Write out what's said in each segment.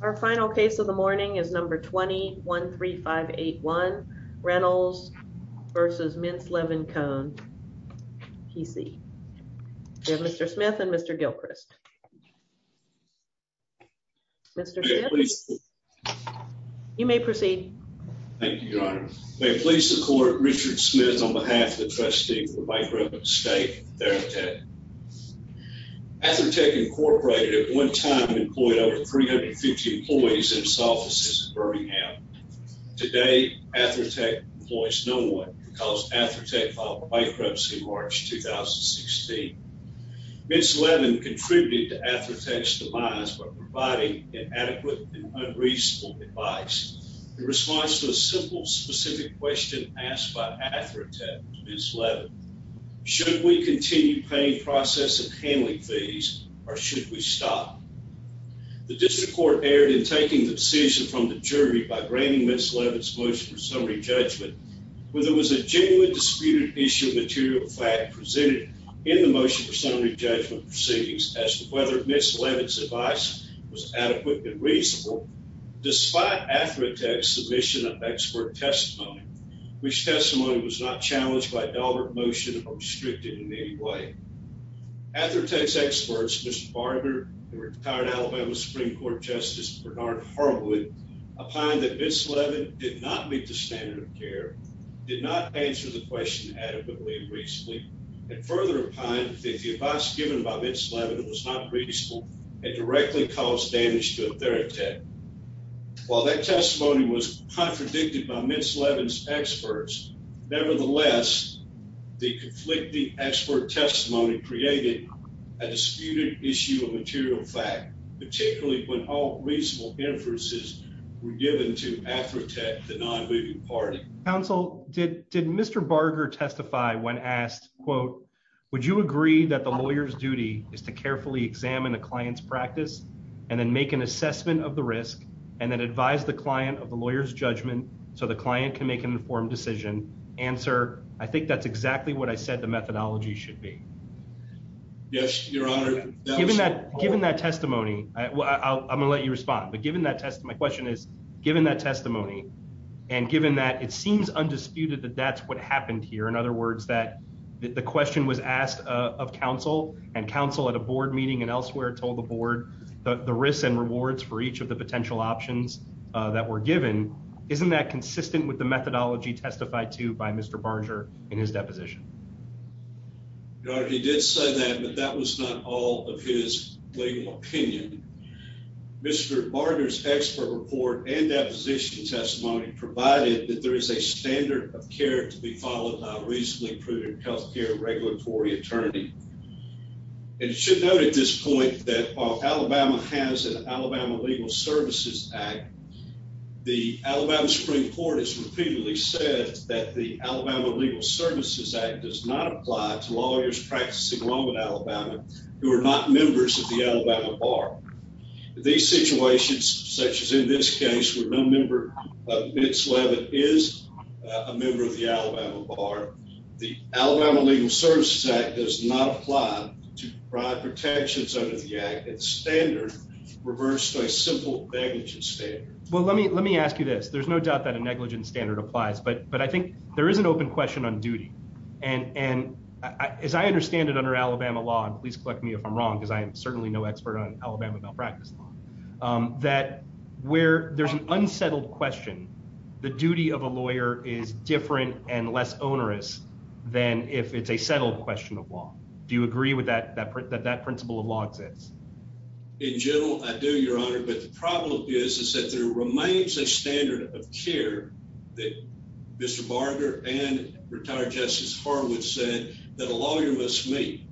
Our final case of the morning is number 20-13581, Reynolds v. Mintz, Levin, Cohn, P.C. We have Mr. Smith and Mr. Gilchrist. Mr. Smith, you may proceed. Thank you, Your Honor. May it please the court, Richard Smith on behalf of the trustee for Bight Brook State, Therapeutic. Athertech Incorporated at one time employed over 350 employees in its offices in Birmingham. Today, Athertech employs no one because Athertech filed bankruptcy in March 2016. Mintz, Levin contributed to Athertech's demise by providing inadequate and unreasonable advice. In response to a simple, specific question asked by Athertech to Mintz, Levin, should we continue paying process and handling fees, or should we stop? The district court erred in taking the decision from the jury by granting Mintz, Levin's motion for summary judgment whether it was a genuinely disputed issue of material fact presented in the motion for summary judgment proceedings as to whether Mintz, Levin's advice was adequate and reasonable. Despite Athertech's submission of expert testimony, which testimony was not challenged by dollar motion or restricted in any way. Athertech's experts, Mr. Barber and retired Alabama Supreme Court Justice Bernard Harwood, opined that Mintz, Levin did not meet the standard of care, did not answer the question adequately and reasonably, and further opined that the advice given by Mintz, Levin was not reasonable and directly caused damage to Athertech. While that testimony was contradicted by Mintz, Levin's experts, nevertheless, the conflicting expert testimony created a disputed issue of material fact, particularly when all reasonable inferences were given to Athertech, the non-moving party. Counsel, did Mr. Barber testify when asked, quote, would you agree that the lawyer's duty is to carefully examine a client's practice and then make an assessment of the risk and then advise the client of the lawyer's judgment so the client can make an informed decision? Answer. I think that's exactly what I said the methodology should be. Yes, your honor. Given that given that testimony, I'm going to let you respond. But given that test, my question is, given that testimony and given that it seems undisputed that that's what happened here. In other words, that the question was asked of counsel and counsel at a board meeting and elsewhere, told the board the risks and rewards for each of the potential options that were given. Isn't that consistent with the methodology testified to by Mr. Barger in his deposition? Your honor, he did say that, but that was not all of his legal opinion. Mr. Barger's expert report and deposition testimony provided that there is a standard of care to be followed by a reasonably proven health care regulatory attorney. And you should note at this point that Alabama has an Alabama Legal Services Act. The Alabama Supreme Court has repeatedly said that the Alabama Legal Services Act does not apply to lawyers practicing law in Alabama who are not members of the Alabama Bar. These situations, such as in this case, where no member of its level is a member of the Alabama Bar. The Alabama Legal Services Act does not apply to provide protections under the act. It's standard reversed by simple negligence. Well, let me let me ask you this. There's no doubt that a negligent standard applies. But but I think there is an open question on duty. And and as I understand it, under Alabama law, and please correct me if I'm wrong, because I am certainly no expert on Alabama malpractice law, that where there's an unsettled question. The duty of a lawyer is different and less onerous than if it's a settled question of law. Do you agree with that that that that principle of law exists in general? I do, Your Honor. But the problem is, is that there remains a standard of care that Mr. Barger and retired Justice Harwood said that a lawyer must meet,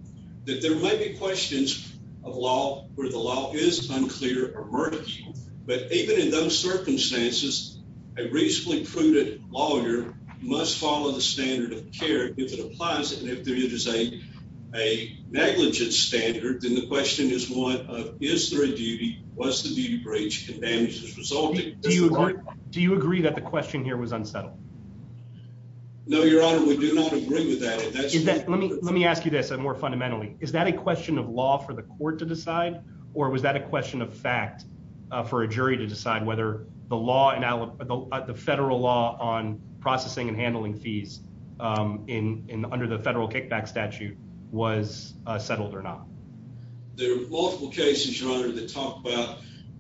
that there may be questions of law where the law is unclear emergency. But even in those circumstances, a reasonably prudent lawyer must follow the standard of care if it applies. And if there is a a negligent standard, then the question is one of history duty was to be breached and damages resulting. Do you agree that the question here was unsettled? No, Your Honor, we do not agree with that. Let me let me ask you this more fundamentally. Is that a question of law for the court to decide? Or was that a question of fact for a jury to decide whether the law and the federal law on processing and handling fees in under the federal kickback statute was settled or not? There are multiple cases, Your Honor, to talk about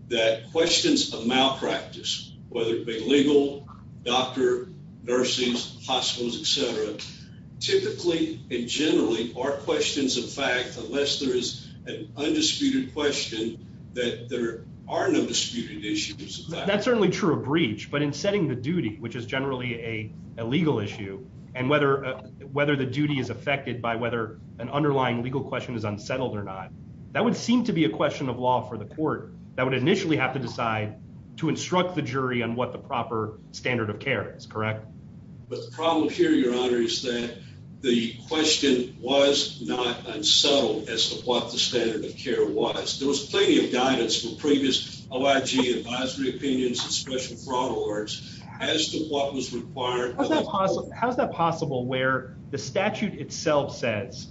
that questions of malpractice, whether it be legal doctor, nurses, hospitals, etc. Typically and generally are questions of fact, unless there is an undisputed question that there are no disputed issues. That's certainly true of breach, but in setting the duty, which is generally a legal issue, and whether whether the duty is affected by whether an underlying legal question is unsettled or not. That would seem to be a question of law for the court that would initially have to decide to instruct the jury on what the proper standard of care is correct. But the problem here, Your Honor, is that the question was not unsettled as to what the standard of care was. There was plenty of guidance from previous OIG advisory opinions and special fraud alerts as to what was required. How's that possible where the statute itself says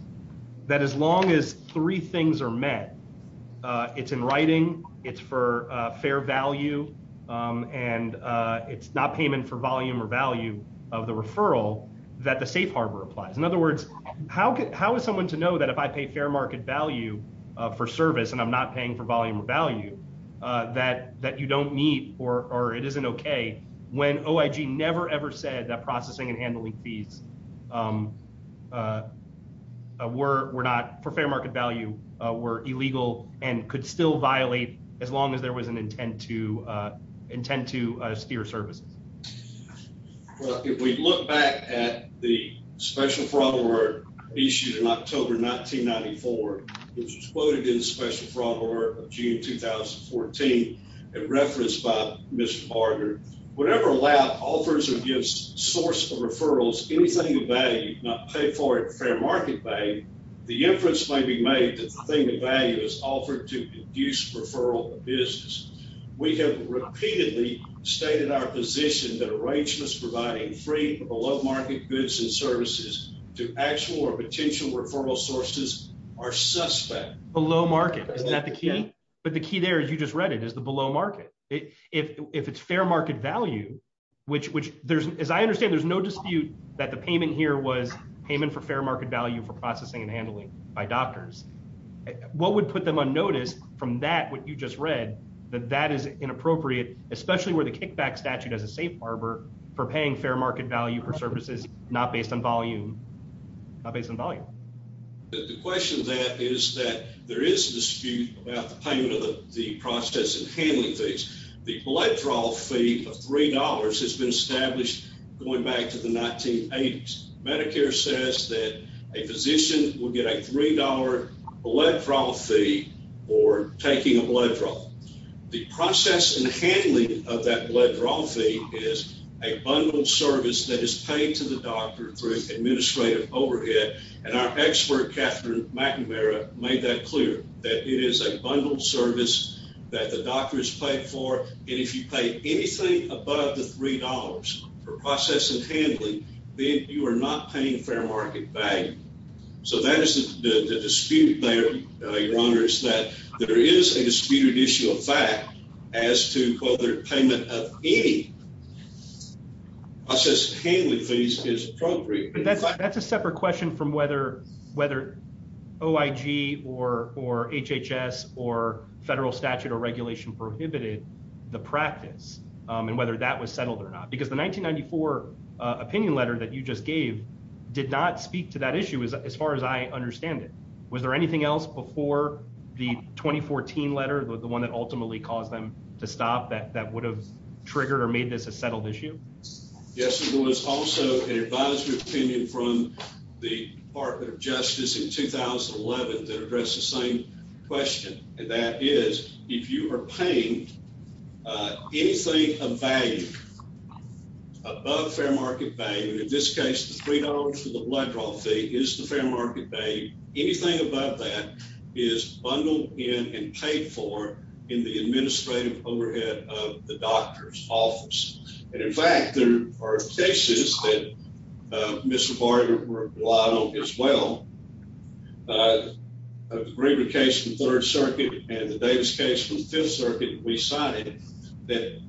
that as long as three things are met, it's in writing, it's for fair value, and it's not payment for volume or value of the referral that the safe harbor applies. In other words, how how is someone to know that if I pay fair market value for service and I'm not paying for volume or value that that you don't need or or it isn't OK when OIG never ever said that processing and handling fees were not for fair market value were illegal and could still violate as long as there was an intent to intend to steer services? Well, if we look back at the special fraud alert issued in October 1994, which was quoted in the special fraud alert of June 2014 and referenced by Mr. Barger. But the key there is you just read it as the below market. If it's fair market value, which which there's as I understand, there's no dispute that the payment here was payment for fair market value for processing and handling by doctors. What would put them on notice from that what you just read that that is inappropriate, especially where the kickback statute as a safe harbor for paying fair market value for services, not based on volume based on volume. The question that is that there is a dispute about the payment of the process and handling fees. The blood draw fee of three dollars has been established going back to the 1980s. Medicare says that a physician will get a three dollar blood draw fee or taking a blood draw. The process and handling of that blood draw fee is a bundled service that is paid to the doctor through administrative overhead. And our expert, Catherine McNamara, made that clear that it is a bundled service that the doctor is paid for. And if you pay anything above the three dollars for process and handling, then you are not paying fair market value. So that is the dispute there, Your Honor, is that there is a disputed issue of fact as to whether payment of any process handling fees is appropriate. That's a separate question from whether whether OIG or or HHS or federal statute or regulation prohibited the practice and whether that was settled or not. Because the 1994 opinion letter that you just gave did not speak to that issue as far as I understand it. Was there anything else before the 2014 letter, the one that ultimately caused them to stop that that would have triggered or made this a settled issue? Yes, there was also an advisory opinion from the Department of Justice in 2011 that addressed the same question. And that is, if you are paying anything of value above fair market value, in this case, the three dollars for the blood draw fee is the fair market value. Anything above that is bundled in and paid for in the administrative overhead of the doctor's office. And in fact, there are cases that Mr. Barger relied on as well. A greater case from Third Circuit and the Davis case from Fifth Circuit. We cited that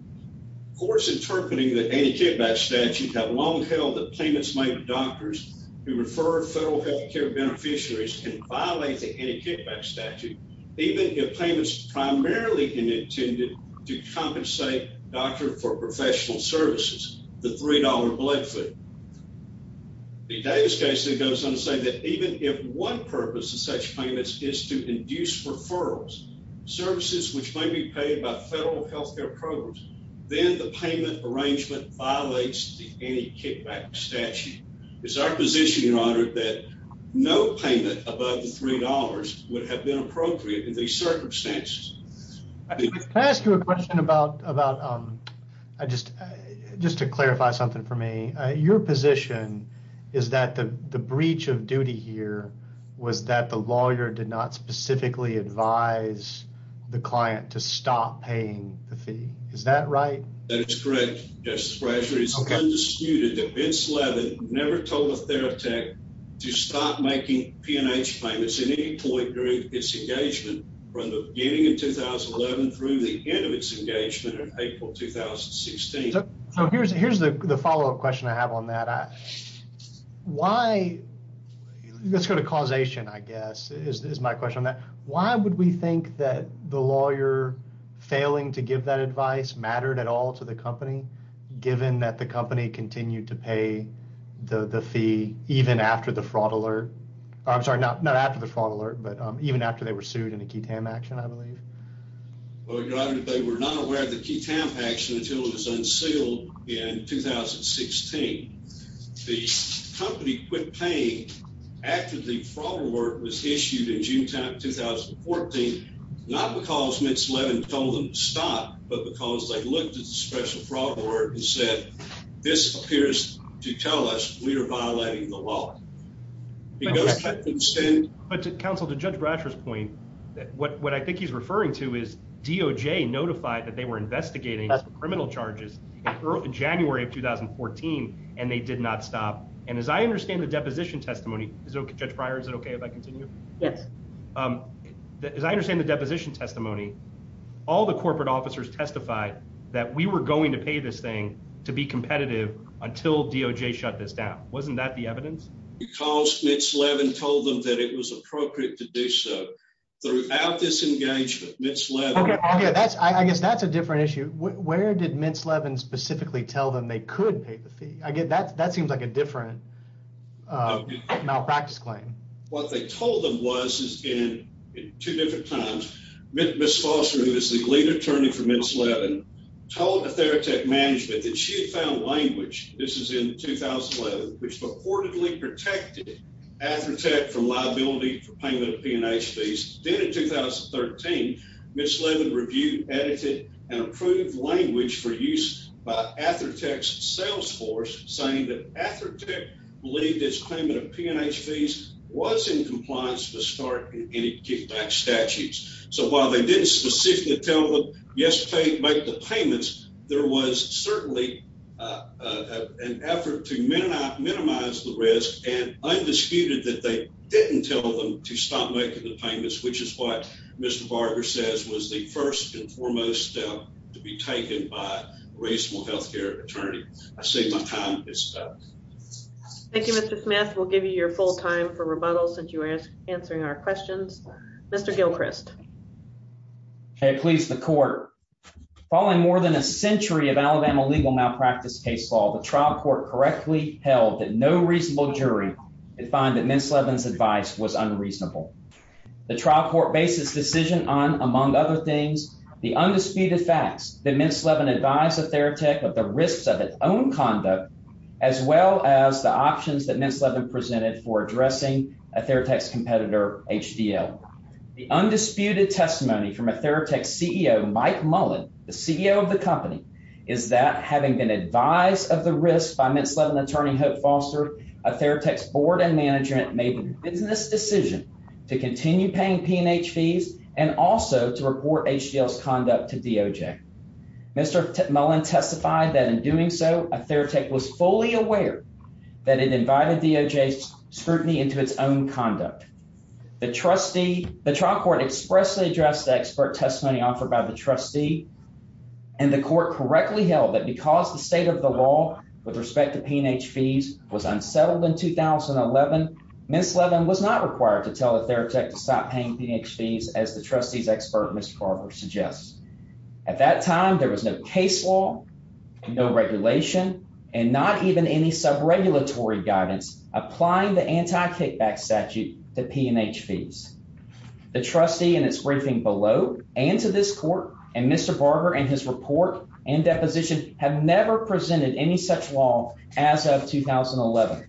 courts interpreting the anti-kickback statute have long held that payments made to doctors who refer federal health care beneficiaries can violate the anti-kickback statute. Even if payments primarily intended to compensate doctors for professional services, the three dollar blood fee. The Davis case goes on to say that even if one purpose of such payments is to induce referrals, services which may be paid by federal health care programs, then the payment arrangement violates the anti-kickback statute. It's our position, Your Honor, that no payment above the three dollars would have been appropriate in these circumstances. Can I ask you a question about, just to clarify something for me, your position is that the breach of duty here was that the lawyer did not specifically advise the client to stop paying the fee. Is that right? That is correct, Justice Brasher. It's undisputed that Vince Levin never told a therapeutic to stop making P&H payments at any point during its engagement from the beginning of 2011 through the end of its engagement in April 2016. Here's the follow-up question I have on that. Let's go to causation, I guess, is my question on that. Why would we think that the lawyer failing to give that advice mattered at all to the company, given that the company continued to pay the fee even after the fraud alert? I'm sorry, not after the fraud alert, but even after they were sued in a Ketam action, I believe. Well, Your Honor, they were not aware of the Ketam action until it was unsealed in 2016. The company quit paying after the fraud alert was issued in June 2014, not because Vince Levin told them to stop, but because they looked at the special fraud alert and said, this appears to tell us we are violating the law. Counsel, to Judge Brasher's point, what I think he's referring to is DOJ notified that they were investigating criminal charges in January of 2014, and they did not stop. And as I understand the deposition testimony, Judge Breyer, is it okay if I continue? Yes. As I understand the deposition testimony, all the corporate officers testified that we were going to pay this thing to be competitive until DOJ shut this down. Wasn't that the evidence? Because Vince Levin told them that it was appropriate to do so. Throughout this engagement, Vince Levin... Okay, I guess that's a different issue. Where did Vince Levin specifically tell them they could pay the fee? That seems like a different malpractice claim. What they told them was, in two different times, Ms. Foster, who is the lead attorney for Vince Levin, told the Theratech management that she had found language, this is in 2011, which reportedly protected Athertech from liability for payment of P&H fees. Then in 2013, Ms. Levin reviewed, edited, and approved language for use by Athertech's sales force, saying that Athertech believed its claimant of P&H fees was in compliance to start any kickback statutes. So while they didn't specifically tell them, yes, make the payments, there was certainly an effort to minimize the risk and undisputed that they didn't tell them to stop making the payments, which is what Mr. Barger says was the first and foremost step to be taken by a reasonable health care attorney. I see my time is up. Thank you, Mr. Smith. We'll give you your full time for rebuttal since you are answering our questions. Mr. Gilchrist. Okay, please, the court. Following more than a century of Alabama legal malpractice case law, the trial court correctly held that no reasonable jury could find that Ms. Levin's advice was unreasonable. The trial court based its decision on, among other things, the undisputed facts that Ms. Levin advised Athertech of the risks of its own conduct, as well as the options that Ms. Levin presented for addressing Athertech's competitor, HDL. The undisputed testimony from Athertech's CEO, Mike Mullen, the CEO of the company, is that having been advised of the risks by Ms. Levin's attorney, Hope Foster, Athertech's board and management made a business decision to continue paying P&H fees and also to report HDL's conduct to DOJ. Mr. Mullen testified that in doing so, Athertech was fully aware that it invited DOJ's scrutiny into its own conduct. The trial court expressly addressed the expert testimony offered by the trustee, and the court correctly held that because the state of the law with respect to P&H fees was unsettled in 2011, Ms. Levin was not required to tell Athertech to stop paying P&H fees, as the trustee's expert, Mr. Carver, suggests. At that time, there was no case law, no regulation, and not even any sub-regulatory guidance applying the anti-kickback statute to P&H fees. The trustee in its briefing below and to this court and Mr. Barber in his report and deposition have never presented any such law as of 2011.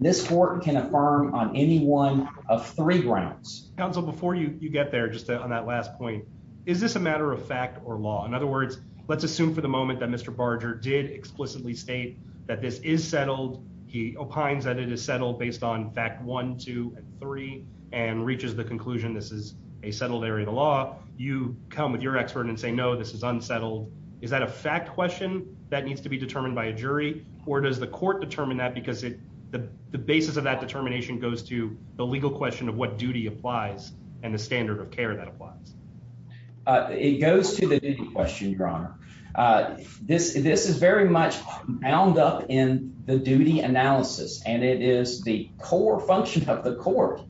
This court can affirm on any one of three grounds. Counsel, before you get there, just on that last point, is this a matter of fact or law? In other words, let's assume for the moment that Mr. Barger did explicitly state that this is settled. He opines that it is settled based on fact one, two, and three and reaches the conclusion this is a settled area of the law. You come with your expert and say no, this is unsettled. Is that a fact question that needs to be determined by a jury or does the court determine that because the basis of that determination goes to the legal question of what duty applies and the standard of care that applies? It goes to the duty question, Your Honor. This is very much bound up in the duty analysis, and it is the core function of the court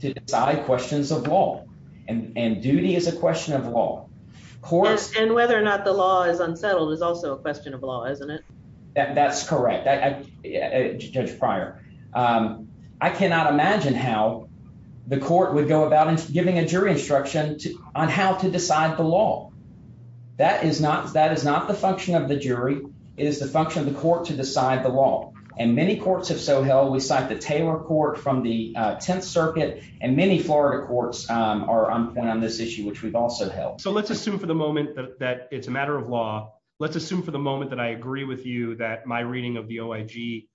to decide questions of law, and duty is a question of law. And whether or not the law is unsettled is also a question of law, isn't it? That's correct, Judge Pryor. I cannot imagine how the court would go about giving a jury instruction on how to decide the law. That is not the function of the jury. It is the function of the court to decide the law, and many courts have so held. We cite the Taylor Court from the 10th Circuit, and many Florida courts are on this issue, which we've also held. So let's assume for the moment that it's a matter of law. Let's assume for the moment that I agree with you that my reading of the OIG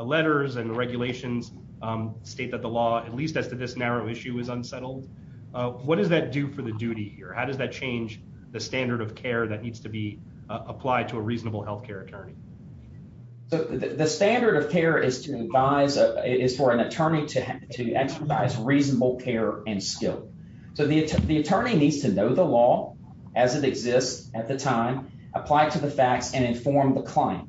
letters and regulations state that the law, at least as to this narrow issue, is unsettled. What does that do for the duty here? How does that change the standard of care that needs to be applied to a reasonable health care attorney? The standard of care is for an attorney to exercise reasonable care and skill. So the attorney needs to know the law as it exists at the time, apply it to the facts, and inform the client.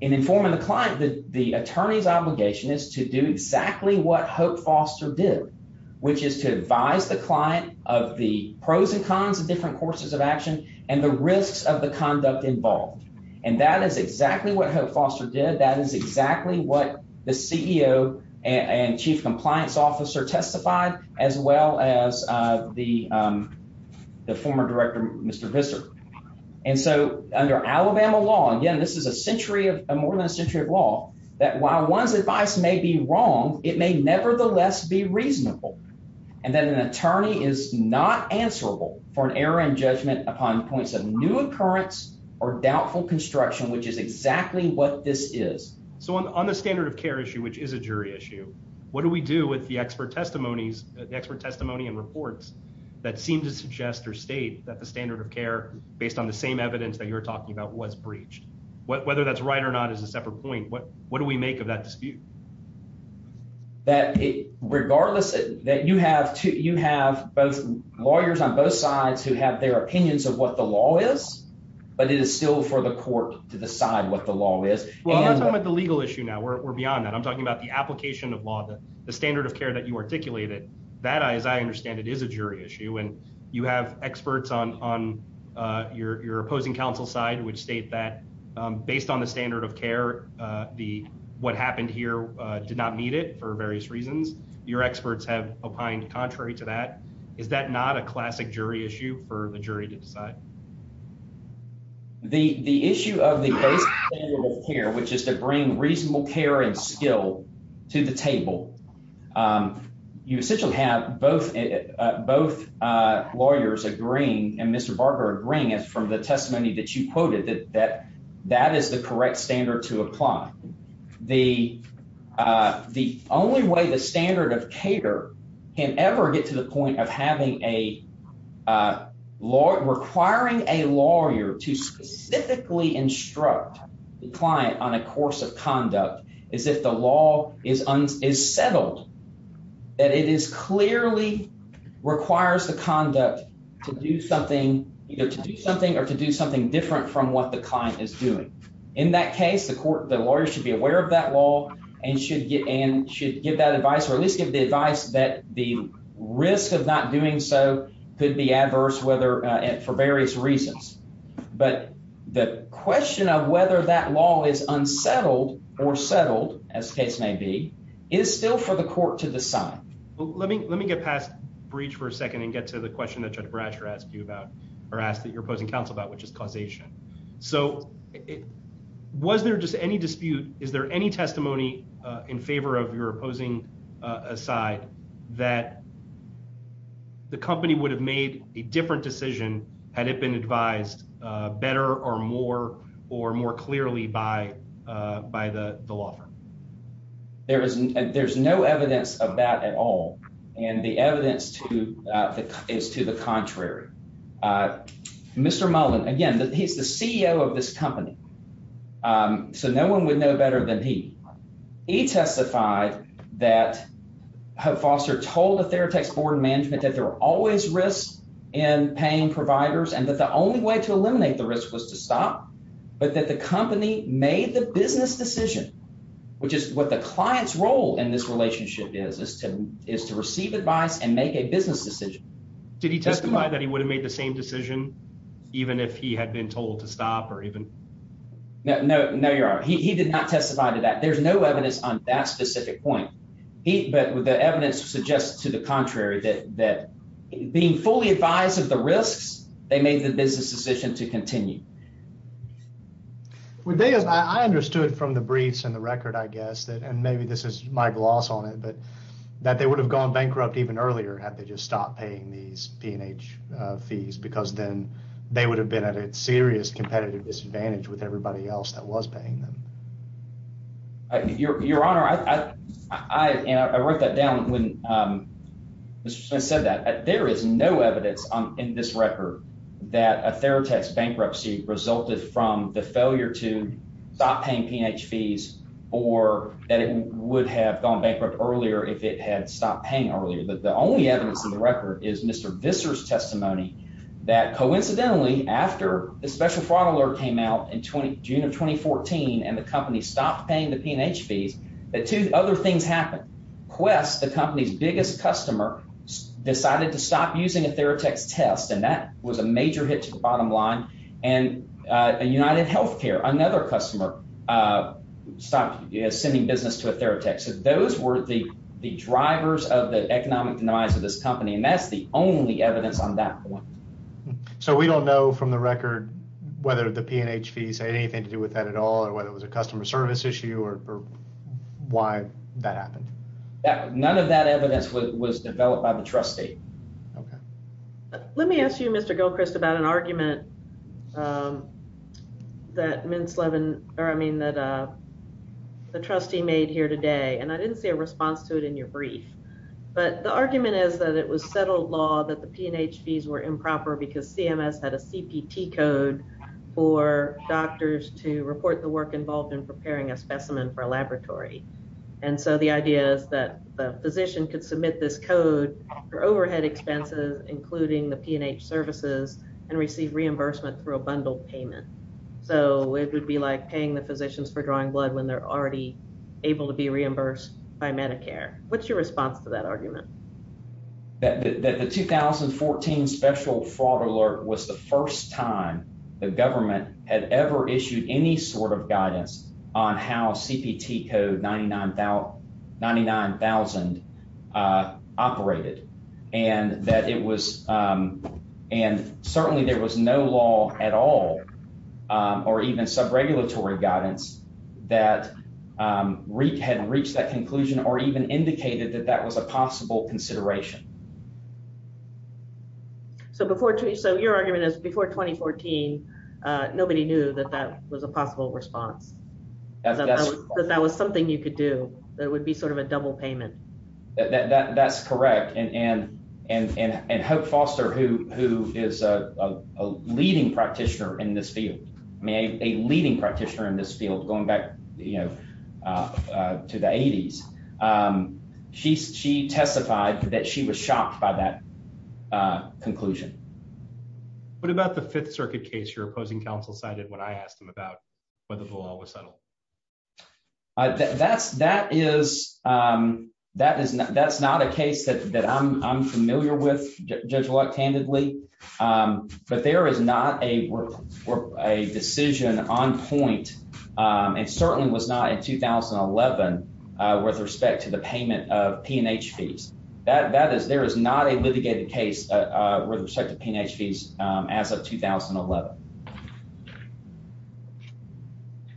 In informing the client, the attorney's obligation is to do exactly what Hope Foster did, which is to advise the client of the pros and cons of different courses of action and the risks of the conduct involved. And that is exactly what Hope Foster did. That is exactly what the CEO and chief compliance officer testified, as well as the former director, Mr. Visser. And so under Alabama law, again, this is more than a century of law, that while one's advice may be wrong, it may nevertheless be reasonable. And that an attorney is not answerable for an error in judgment upon points of new occurrence or doubtful construction, which is exactly what this is. So on the standard of care issue, which is a jury issue, what do we do with the expert testimonies, the expert testimony and reports that seem to suggest or state that the standard of care, based on the same evidence that you're talking about, was breached? Whether that's right or not is a separate point. What do we make of that dispute? Regardless, you have lawyers on both sides who have their opinions of what the law is, but it is still for the court to decide what the law is. Well, I'm not talking about the legal issue now. We're beyond that. I'm talking about the application of law, the standard of care that you articulated. That, as I understand it, is a jury issue, and you have experts on your opposing counsel's side which state that, based on the standard of care, what happened here did not meet it for various reasons. Your experts have opined contrary to that. Is that not a classic jury issue for the jury to decide? The issue of the basic standard of care, which is to bring reasonable care and skill to the table, you essentially have both lawyers agreeing, and Mr. Barker agreeing, from the testimony that you quoted, that that is the correct standard to apply. The only way the standard of care can ever get to the point of requiring a lawyer to specifically instruct the client on a course of conduct is if the law is settled, that it clearly requires the conduct to do something either to do something or to do something different from what the client is doing. In that case, the lawyer should be aware of that law and should give that advice or at least give the advice that the risk of not doing so could be adverse for various reasons. But the question of whether that law is unsettled or settled, as the case may be, is still for the court to decide. Let me get past breach for a second and get to the question that Judge Brasher asked you about or asked that your opposing counsel about, which is causation. So was there just any dispute? Is there any testimony in favor of your opposing side that the company would have made a different decision had it been advised better or more or more clearly by the law firm? There's no evidence of that at all, and the evidence is to the contrary. Mr. Mullen, again, he's the CEO of this company, so no one would know better than he. He testified that Foster told the Theratex board of management that there were always risks in paying providers and that the only way to eliminate the risk was to stop but that the company made the business decision, which is what the client's role in this relationship is, is to receive advice and make a business decision. Did he testify that he would have made the same decision even if he had been told to stop or even? No, your honor. He did not testify to that. There's no evidence on that specific point. But the evidence suggests to the contrary that being fully advised of the risks, they made the business decision to continue. I understood from the briefs and the record, I guess, and maybe this is my gloss on it, but that they would have gone bankrupt even earlier had they just stopped paying these P&H fees because then they would have been at a serious competitive disadvantage with everybody else that was paying them. Your honor, I wrote that down when Mr. Smith said that. There is no evidence in this record that a Theratex bankruptcy resulted from the failure to stop paying P&H fees or that it would have gone bankrupt earlier if it had stopped paying earlier. The only evidence in the record is Mr. Visser's testimony that coincidentally after the special fraud alert came out in June of 2014 and the company stopped paying the P&H fees, two other things happened. Quest, the company's biggest customer, decided to stop using a Theratex test, and that was a major hit to the bottom line. And UnitedHealthcare, another customer, stopped sending business to a Theratex. Those were the drivers of the economic demise of this company, and that's the only evidence on that point. So we don't know from the record whether the P&H fees had anything to do with that at all or whether it was a customer service issue or why that happened? None of that evidence was developed by the trustee. Let me ask you, Mr. Gilchrist, about an argument that the trustee made here today, and I didn't see a response to it in your brief. But the argument is that it was settled law that the P&H fees were improper because CMS had a CPT code for doctors to report the work involved in preparing a specimen for a laboratory. And so the idea is that the physician could submit this code for overhead expenses, including the P&H services, and receive reimbursement through a bundled payment. So it would be like paying the physicians for drawing blood when they're already able to be reimbursed by Medicare. What's your response to that argument? The 2014 special fraud alert was the first time the government had ever issued any sort of guidance on how CPT code 99,000 operated. And certainly there was no law at all or even sub-regulatory guidance that had reached that conclusion or even indicated that that was a possible consideration. So your argument is before 2014, nobody knew that that was a possible response, that that was something you could do, that it would be sort of a double payment. That's correct. And Hope Foster, who is a leading practitioner in this field, a leading practitioner in this field going back to the 80s, she testified that she was shocked by that conclusion. What about the Fifth Circuit case your opposing counsel cited when I asked him about whether the law was settled? That's not a case that I'm familiar with, Judge Luck, candidly, but there is not a decision on point, and certainly was not in 2011, with respect to the payment of P&H fees. There is not a litigated case with respect to P&H fees as of 2011.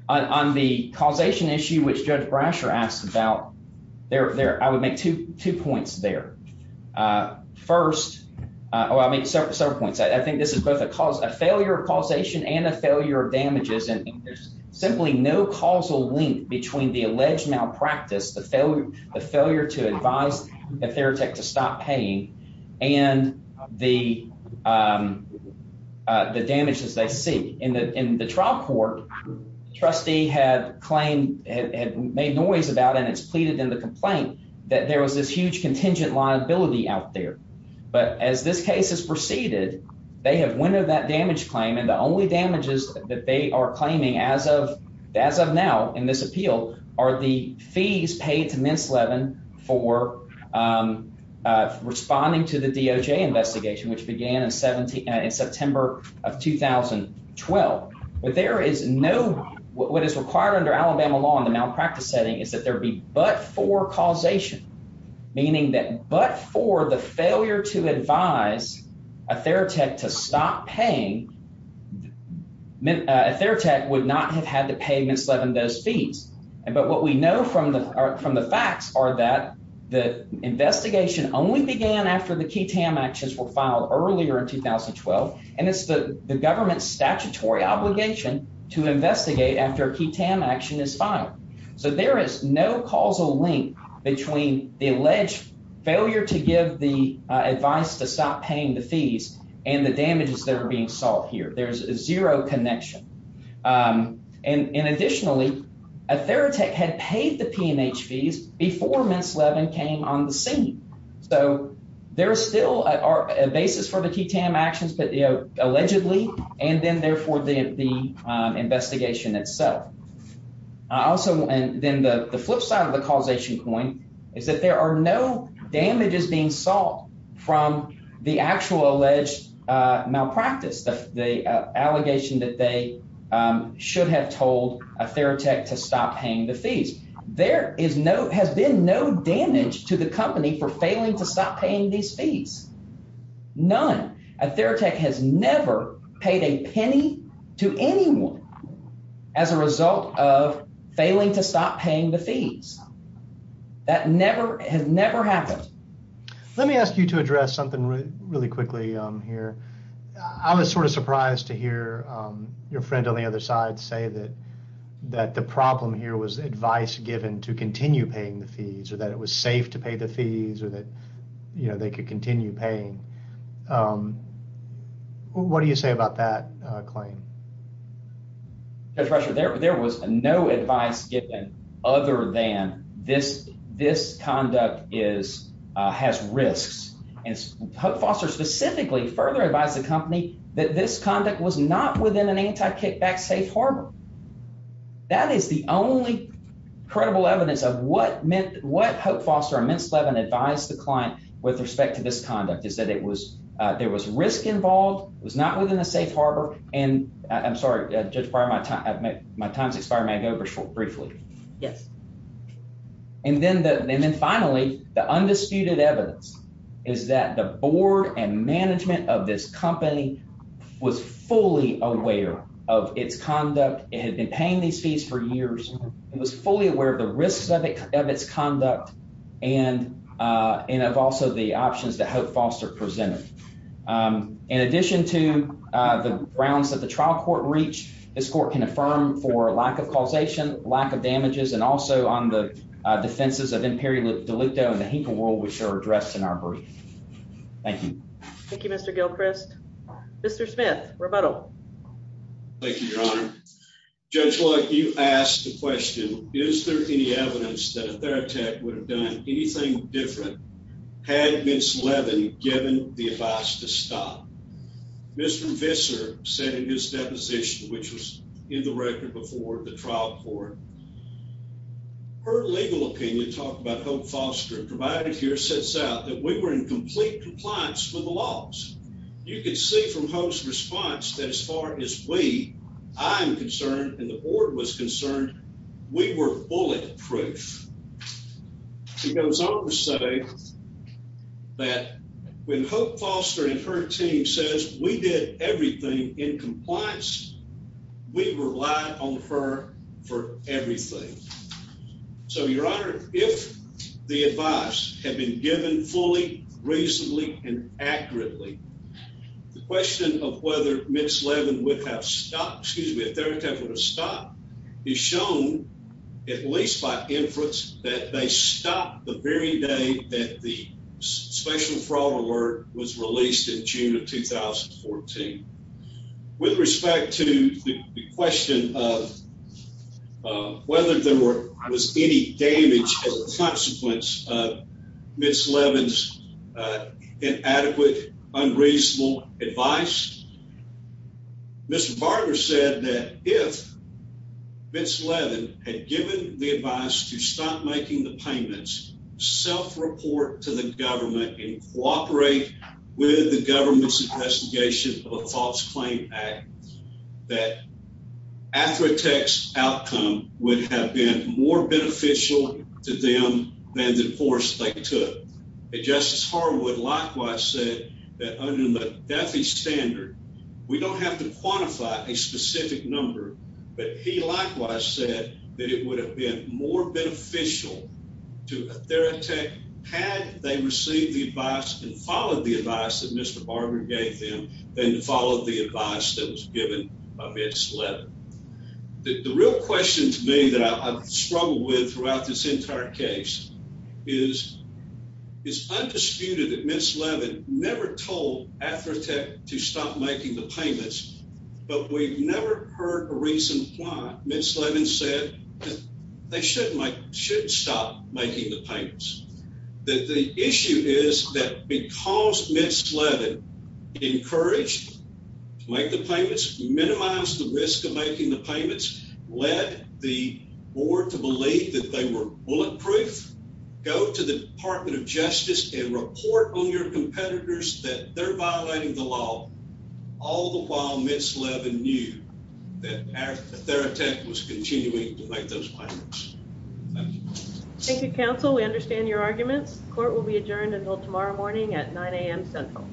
On the causation issue, which Judge Brasher asked about, I would make two points there. First, I'll make several points. I think this is both a failure of causation and a failure of damages, and there's simply no causal link between the alleged malpractice, the failure to advise a theoretic to stop paying, and the damages they see. In the trial court, the trustee had made noise about, and it's pleaded in the complaint, that there was this huge contingent liability out there. But as this case is preceded, they have windowed that damage claim, and the only damages that they are claiming as of now in this appeal are the fees paid to Ms. Levin for responding to the DOJ investigation, which began in September of 2012. But there is no—what is required under Alabama law in the malpractice setting is that there be but-for causation, meaning that but-for the failure to advise a theoretic to stop paying, a theoretic would not have had to pay Ms. Levin those fees. But what we know from the facts are that the investigation only began after the Ketam actions were filed earlier in 2012, and it's the government's statutory obligation to investigate after a Ketam action is filed. So there is no causal link between the alleged failure to give the advice to stop paying the fees and the damages that are being solved here. There's zero connection. And additionally, a theoretic had paid the P&H fees before Ms. Levin came on the scene. So there is still a basis for the Ketam actions allegedly, and then therefore the investigation itself. I also—and then the flip side of the causation point is that there are no damages being solved from the actual alleged malpractice, the allegation that they should have told a theoretic to stop paying the fees. There is no—has been no damage to the company for failing to stop paying these fees. None. A theoretic has never paid a penny to anyone as a result of failing to stop paying the fees. That never—has never happened. Let me ask you to address something really quickly here. I was sort of surprised to hear your friend on the other side say that the problem here was advice given to continue paying the fees or that it was safe to pay the fees or that they could continue paying. What do you say about that claim? Judge Rusher, there was no advice given other than this conduct is—has risks. And Hope Foster specifically further advised the company that this conduct was not within an anti-kickback safe harbor. That is the only credible evidence of what meant—what Hope Foster and Mintz Levin advised the client with respect to this conduct is that it was—there was risk involved. It was not within a safe harbor. And I'm sorry, Judge Breyer, my time—my time has expired. May I go briefly? Yes. And then the—and then finally, the undisputed evidence is that the board and management of this company was fully aware of its conduct. It had been paying these fees for years. It was fully aware of the risks of its conduct and of also the options that Hope Foster presented. In addition to the grounds that the trial court reached, this court can affirm for lack of causation, lack of damages, and also on the defenses of Imperial Delicto and the Hinkle Rule, which are addressed in our brief. Thank you. Thank you, Mr. Gilchrist. Mr. Smith, rebuttal. Thank you, Your Honor. Judge Luck, you asked the question, is there any evidence that a therapeutic would have done anything different had Mintz Levin given the advice to stop? Mr. Visser said in his deposition, which was in the record before the trial court, her legal opinion talked about Hope Foster provided here sets out that we were in complete compliance with the laws. You could see from Hope's response that as far as we, I'm concerned and the board was concerned, we were bulletproof. She goes on to say that when Hope Foster and her team says we did everything in compliance, we relied on her for everything. So, Your Honor, if the advice had been given fully, reasonably, and accurately, the question of whether Mintz Levin would have stopped, excuse me, a therapeutic would have stopped is shown at least by inference that they stopped the very day that the special fraud alert was released in June of 2014. With respect to the question of whether there was any damage as a consequence of Mintz Levin's inadequate, unreasonable advice, Mr. Barger said that if Mintz Levin had given the advice to stop making the payments, self-report to the government and cooperate with the government's investigation of a false claim act, that after a text outcome would have been more beneficial to them than the force they took. Justice Harwood likewise said that under the DEFI standard, we don't have to quantify a specific number, but he likewise said that it would have been more beneficial to a therapeutic had they received the advice and followed the advice that Mr. Barger gave them than to follow the advice that was given by Mintz Levin. The real question to me that I've struggled with throughout this entire case is, is undisputed that Mintz Levin never told AtherTech to stop making the payments, but we've never heard a reason why Mintz Levin said that they should stop making the payments. The issue is that because Mintz Levin encouraged to make the payments, minimize the risk of making the payments, led the board to believe that they were bulletproof, go to the Department of Justice and report on your competitors that they're violating the law, all the while Mintz Levin knew that AtherTech was continuing to make those payments. Thank you, counsel. We understand your arguments. Court will be adjourned until tomorrow morning at 9 a.m. Central.